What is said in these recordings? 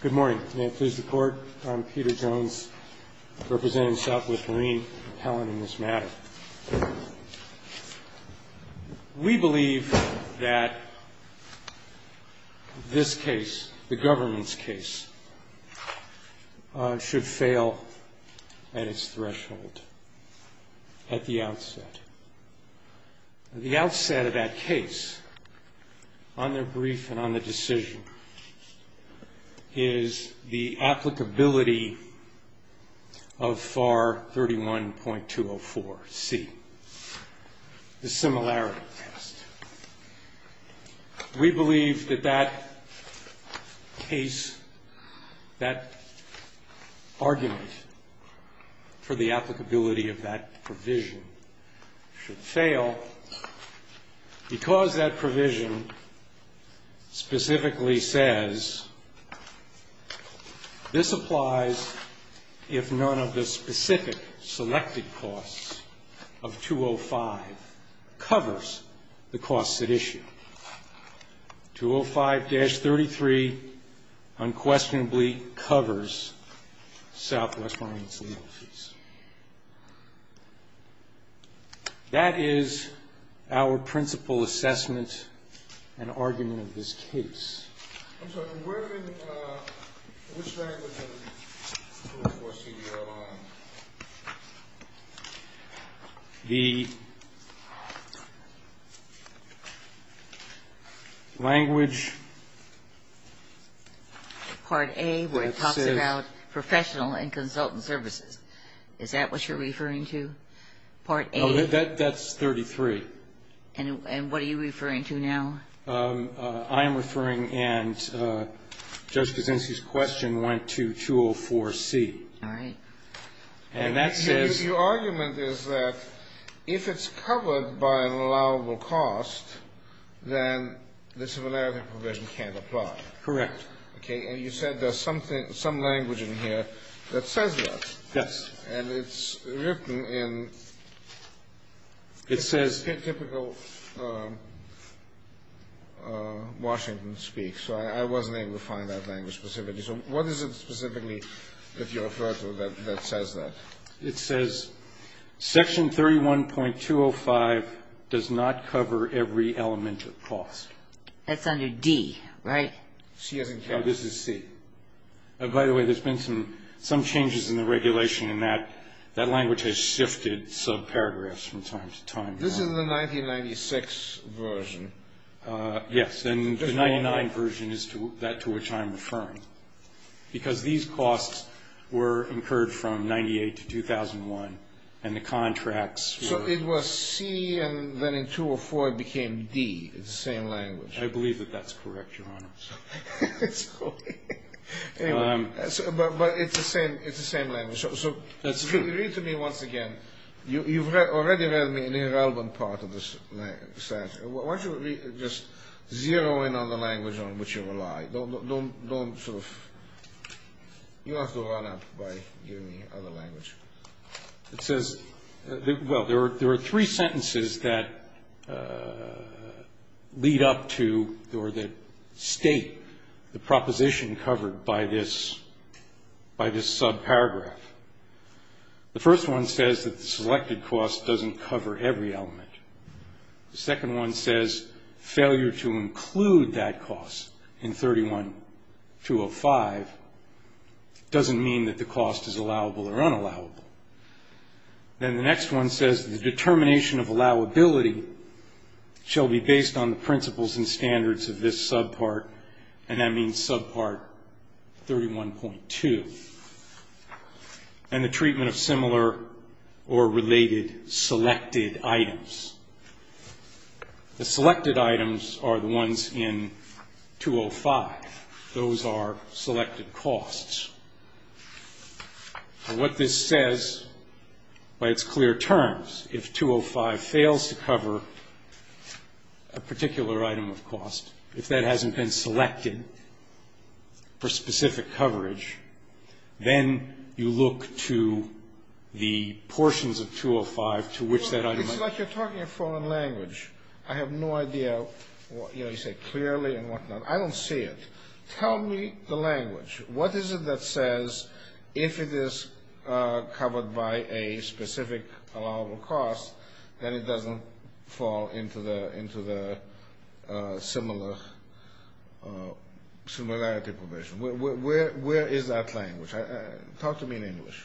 Good morning. May it please the Court, I'm Peter Jones, representing Southwest Marine Appellant in this matter. We believe that this case, the government's case, should fail at its threshold, at the outset. At the outset of that case, on their brief and on the decision, is the applicability of FAR 31.204C, the similarity test. We believe that that case, that argument for the applicability of that provision should fail because that provision specifically says, this applies if none of the specific selected costs of 205 covers the costs at issue. 205-33 unquestionably covers Southwest Marine's legal fees. That is our principal assessment and argument of this case. I'm sorry, which language are you enforcing your law on? The language Part A where it talks about professional and consultant services. Is that what you're referring to, Part A? No, that's 33. And what are you referring to now? I am referring, and Judge Kuczynski's question went to 204C. All right. And that says Your argument is that if it's covered by an allowable cost, then the similarity provision can't apply. Correct. Okay, and you said there's some language in here that says that. Yes. And it's written in It says It's typical Washington speak, so I wasn't able to find that language specifically. So what is it specifically that you refer to that says that? It says Section 31.205 does not cover every element of cost. That's under D, right? No, this is C. By the way, there's been some changes in the regulation, and that language has shifted subparagraphs from time to time. This is the 1996 version. Yes, and the 99 version is that to which I'm referring, because these costs were incurred from 98 to 2001, and the contracts were So it was C, and then in 204 it became D, it's the same language. I believe that that's correct, Your Honor. Anyway, but it's the same language. So read to me once again. You've already read me an irrelevant part of this sentence. Why don't you just zero in on the language on which you rely. Don't sort of You have to run up by giving me other language. It says, well, there are three sentences that lead up to or that state the proposition covered by this subparagraph. The first one says that the selected cost doesn't cover every element. The second one says failure to include that cost in 31205 doesn't mean that the cost is allowable or unallowable. Then the next one says the determination of allowability shall be based on the principles and standards of this subpart, and that means subpart 31.2, and the treatment of similar or related selected items. The selected items are the ones in 205. Those are selected costs. And what this says by its clear terms, if 205 fails to cover a particular item of cost, if that hasn't been selected for specific coverage, then you look to the portions of 205 to which that item It's like you're talking in foreign language. I have no idea. You say clearly and whatnot. I don't see it. Tell me the language. What is it that says if it is covered by a specific allowable cost, then it doesn't fall into the similarity provision? Where is that language? Talk to me in English.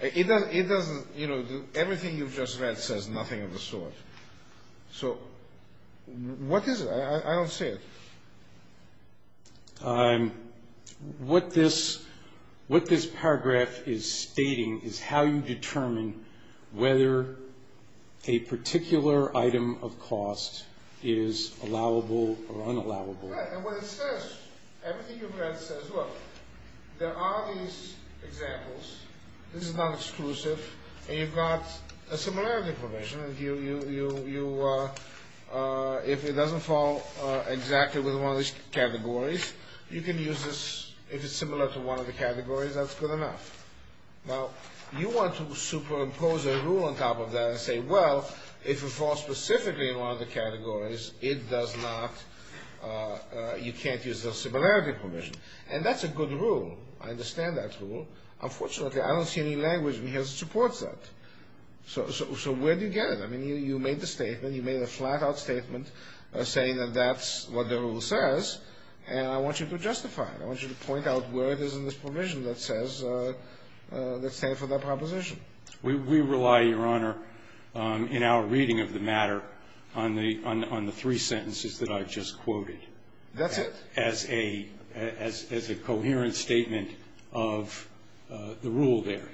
It doesn't, you know, everything you've just read says nothing of the sort. So what is it? I don't see it. What this paragraph is stating is how you determine whether a particular item of cost is allowable or unallowable. Right, and what it says, everything you've read says, look, there are these examples. This is not exclusive. And you've got a similarity provision. If it doesn't fall exactly within one of these categories, you can use this. If it's similar to one of the categories, that's good enough. Now, you want to superimpose a rule on top of that and say, well, if it falls specifically in one of the categories, it does not, you can't use the similarity provision. And that's a good rule. I understand that rule. Unfortunately, I don't see any language that supports that. So where do you get it? I mean, you made the statement. You made a flat-out statement saying that that's what the rule says, and I want you to justify it. I want you to point out where it is in this provision that says, that stands for that proposition. We rely, Your Honor, in our reading of the matter, on the three sentences that I just quoted. That's it? As a coherent statement of the rule there.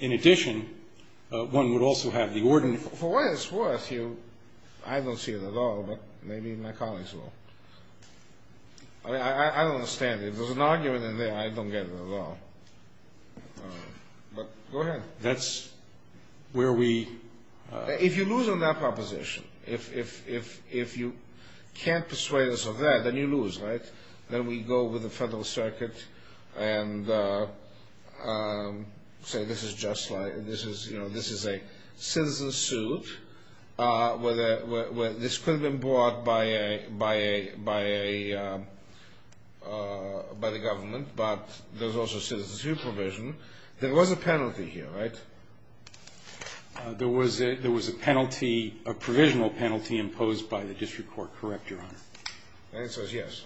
In addition, one would also have the ordinance. For what it's worth, I don't see it at all, but maybe my colleagues will. I mean, I don't understand. If there's an argument in there, I don't get it at all. But go ahead. That's where we. If you lose on that proposition, if you can't persuade us of that, then you lose, right? Then we go with the Federal Circuit and say this is just like, you know, this is a citizen suit. This could have been brought by the government, but there's also citizen supervision. There was a penalty here, right? There was a penalty, a provisional penalty imposed by the district court, correct, Your Honor? The answer is yes.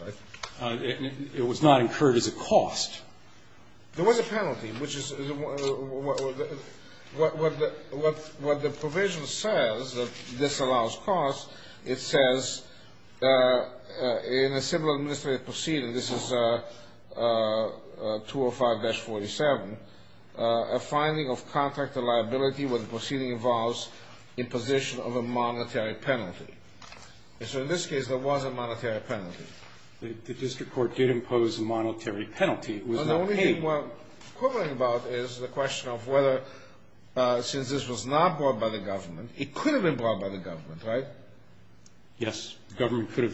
It was not incurred as a cost. There was a penalty, which is what the provision says, that this allows cost. It says in a civil administrative proceeding, this is 205-47, a finding of contractor liability when the proceeding involves imposition of a monetary penalty. And so in this case, there was a monetary penalty. The district court did impose a monetary penalty. It was not paid. The only thing we're quibbling about is the question of whether, since this was not brought by the government, it could have been brought by the government, right? Yes. The government could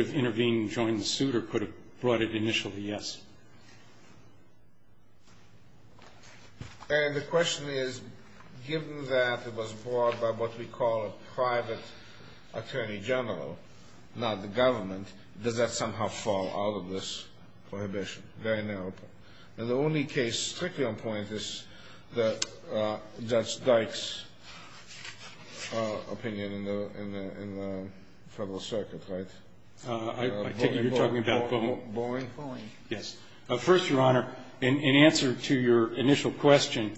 have intervened and joined the suit or could have brought it initially, yes. And the question is, given that it was brought by what we call a private attorney general, not the government, does that somehow fall out of this prohibition? Very narrow. And the only case, strictly on point, is Judge Dyke's opinion in the Federal Circuit, right? I take it you're talking about Bowen? Bowen. Yes. First, Your Honor, in answer to your initial question,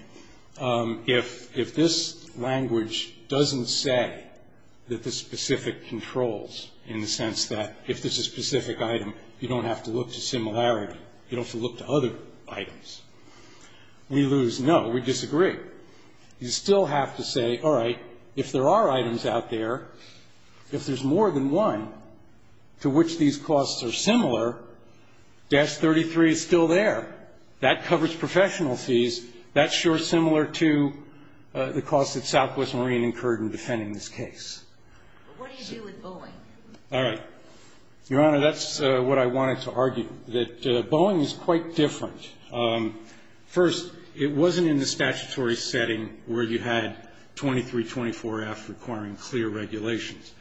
if this language doesn't say that the specific controls, in the sense that if there's a specific item, you don't have to look to similarity. You don't have to look to other items. We lose. No, we disagree. You still have to say, all right, if there are items out there, if there's more than one, to which these costs are similar, Dash 33 is still there. That covers professional fees. That's sure similar to the costs that Southwest Marine incurred in defending this case. But what do you do with Bowen? All right. Your Honor, that's what I wanted to argue, that Bowen is quite different. First, it wasn't in the statutory setting where you had 2324F requiring clear regulations.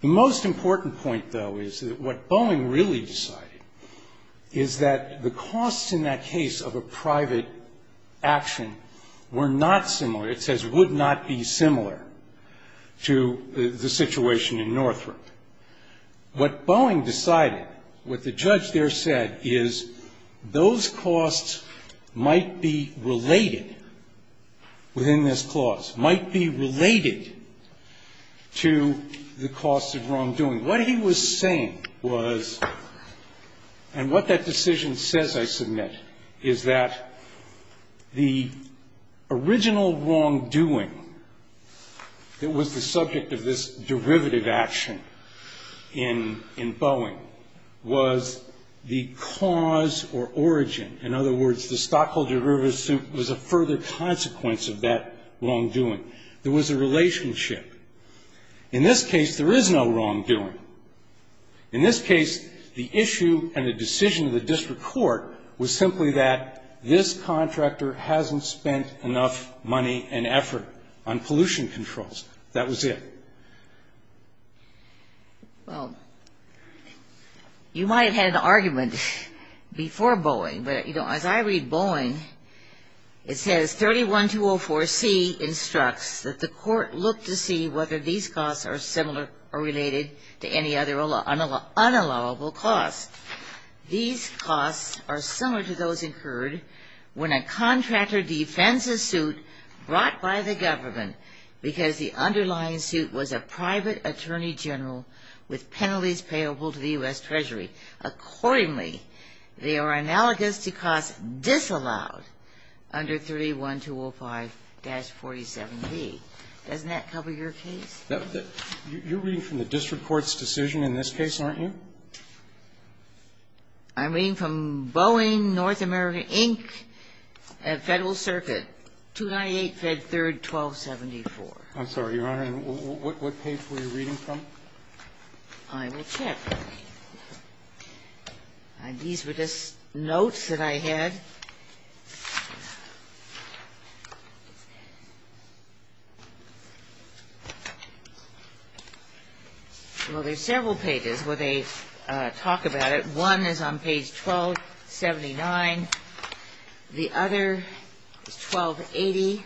The most important point, though, is that what Bowen really decided is that the costs in that case of a private action were not similar. It says would not be similar to the situation in Northrop. What Bowen decided, what the judge there said, is those costs might be related within this clause, might be related to the costs of wrongdoing. What he was saying was, and what that decision says, I submit, is that the original wrongdoing that was the subject of this derivative action in Bowen was the cause or origin. In other words, the stockholder derivative was a further consequence of that wrongdoing. There was a relationship. In this case, there is no wrongdoing. In this case, the issue and the decision of the district court was simply that this on pollution controls. That was it. Well, you might have had an argument before Bowen, but, you know, as I read Bowen, it says 31204C instructs that the court look to see whether these costs are similar or related to any other unallowable costs. These costs are similar to those incurred when a contractor defends a suit brought by the government because the underlying suit was a private attorney general with penalties payable to the U.S. Treasury. Accordingly, they are analogous to costs disallowed under 31205-47B. Doesn't that cover your case? You're reading from the district court's decision in this case, aren't you? I'm reading from Boeing, North America, Inc., Federal Circuit, 298 Fed 3rd, 1274. I'm sorry, Your Honor. What page were you reading from? I will check. These were just notes that I had. Well, there's several pages where they talk about it. One is on page 1279. The other is 1280.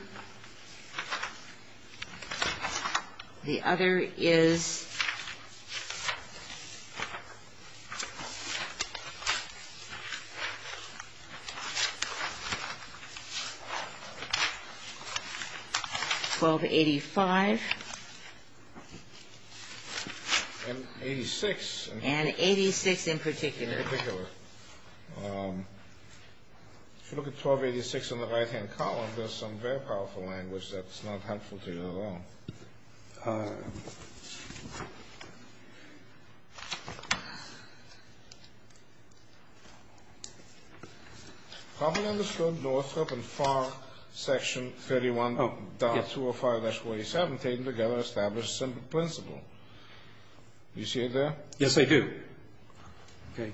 The other is 1280. 1285. And 86. And 86 in particular. In particular. If you look at 1286 in the right-hand column, there's some very powerful language that's not helpful to you at all. How can I understand Northrop and Farr section 31.205-47, taken together, establish a simple principle? Do you see it there? Yes, I do. Okay.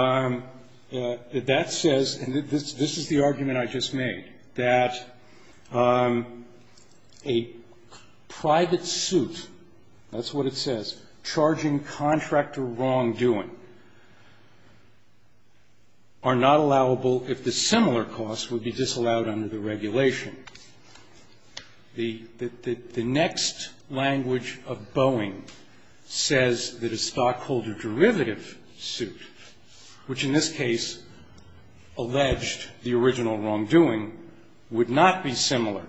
That says, and this is the argument I just made, that a private suit, that's what it says, charging contractor wrongdoing, are not allowable if the similar cost would be disallowed under the regulation. The next language of Boeing says that a stockholder derivative suit, which in this case alleged the original wrongdoing, would not be similar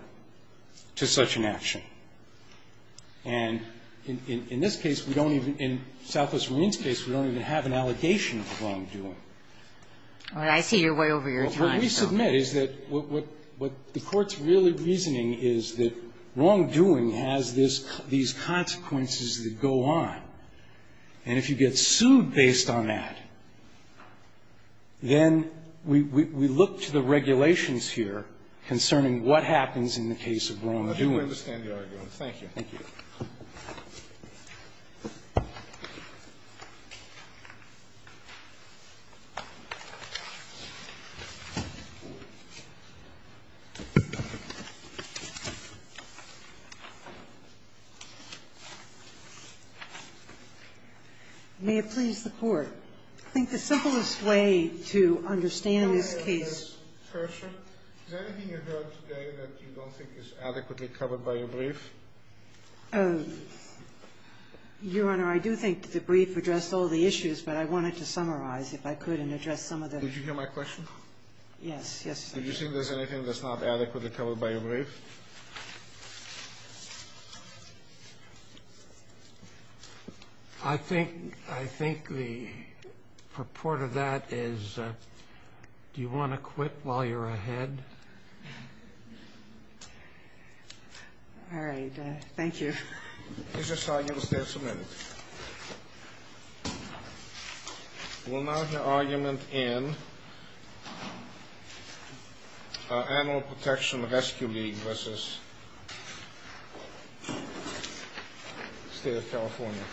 to such an action. And in this case, we don't even, in Southwest Marine's case, we don't even have an allegation of wrongdoing. All right. I see you're way over your time. What we submit is that what the Court's really reasoning is that wrongdoing has these consequences that go on. And if you get sued based on that, then we look to the regulations here concerning what happens in the case of wrongdoing. I do understand the argument. Thank you. May it please the Court. I think the simplest way to understand this case. Is there anything you heard today that you don't think is adequately covered by your brief? Your Honor, I do think the brief addressed all the issues, but I wanted to summarize if I could and address some of the. Did you hear my question? Yes. Yes, I did. Do you think there's anything that's not adequately covered by your brief? I think the purport of that is, do you want to quit while you're ahead? All right. Thank you. Let me just argue the case a minute. We'll now hear argument in our Animal Protection Rescue League versus State of California.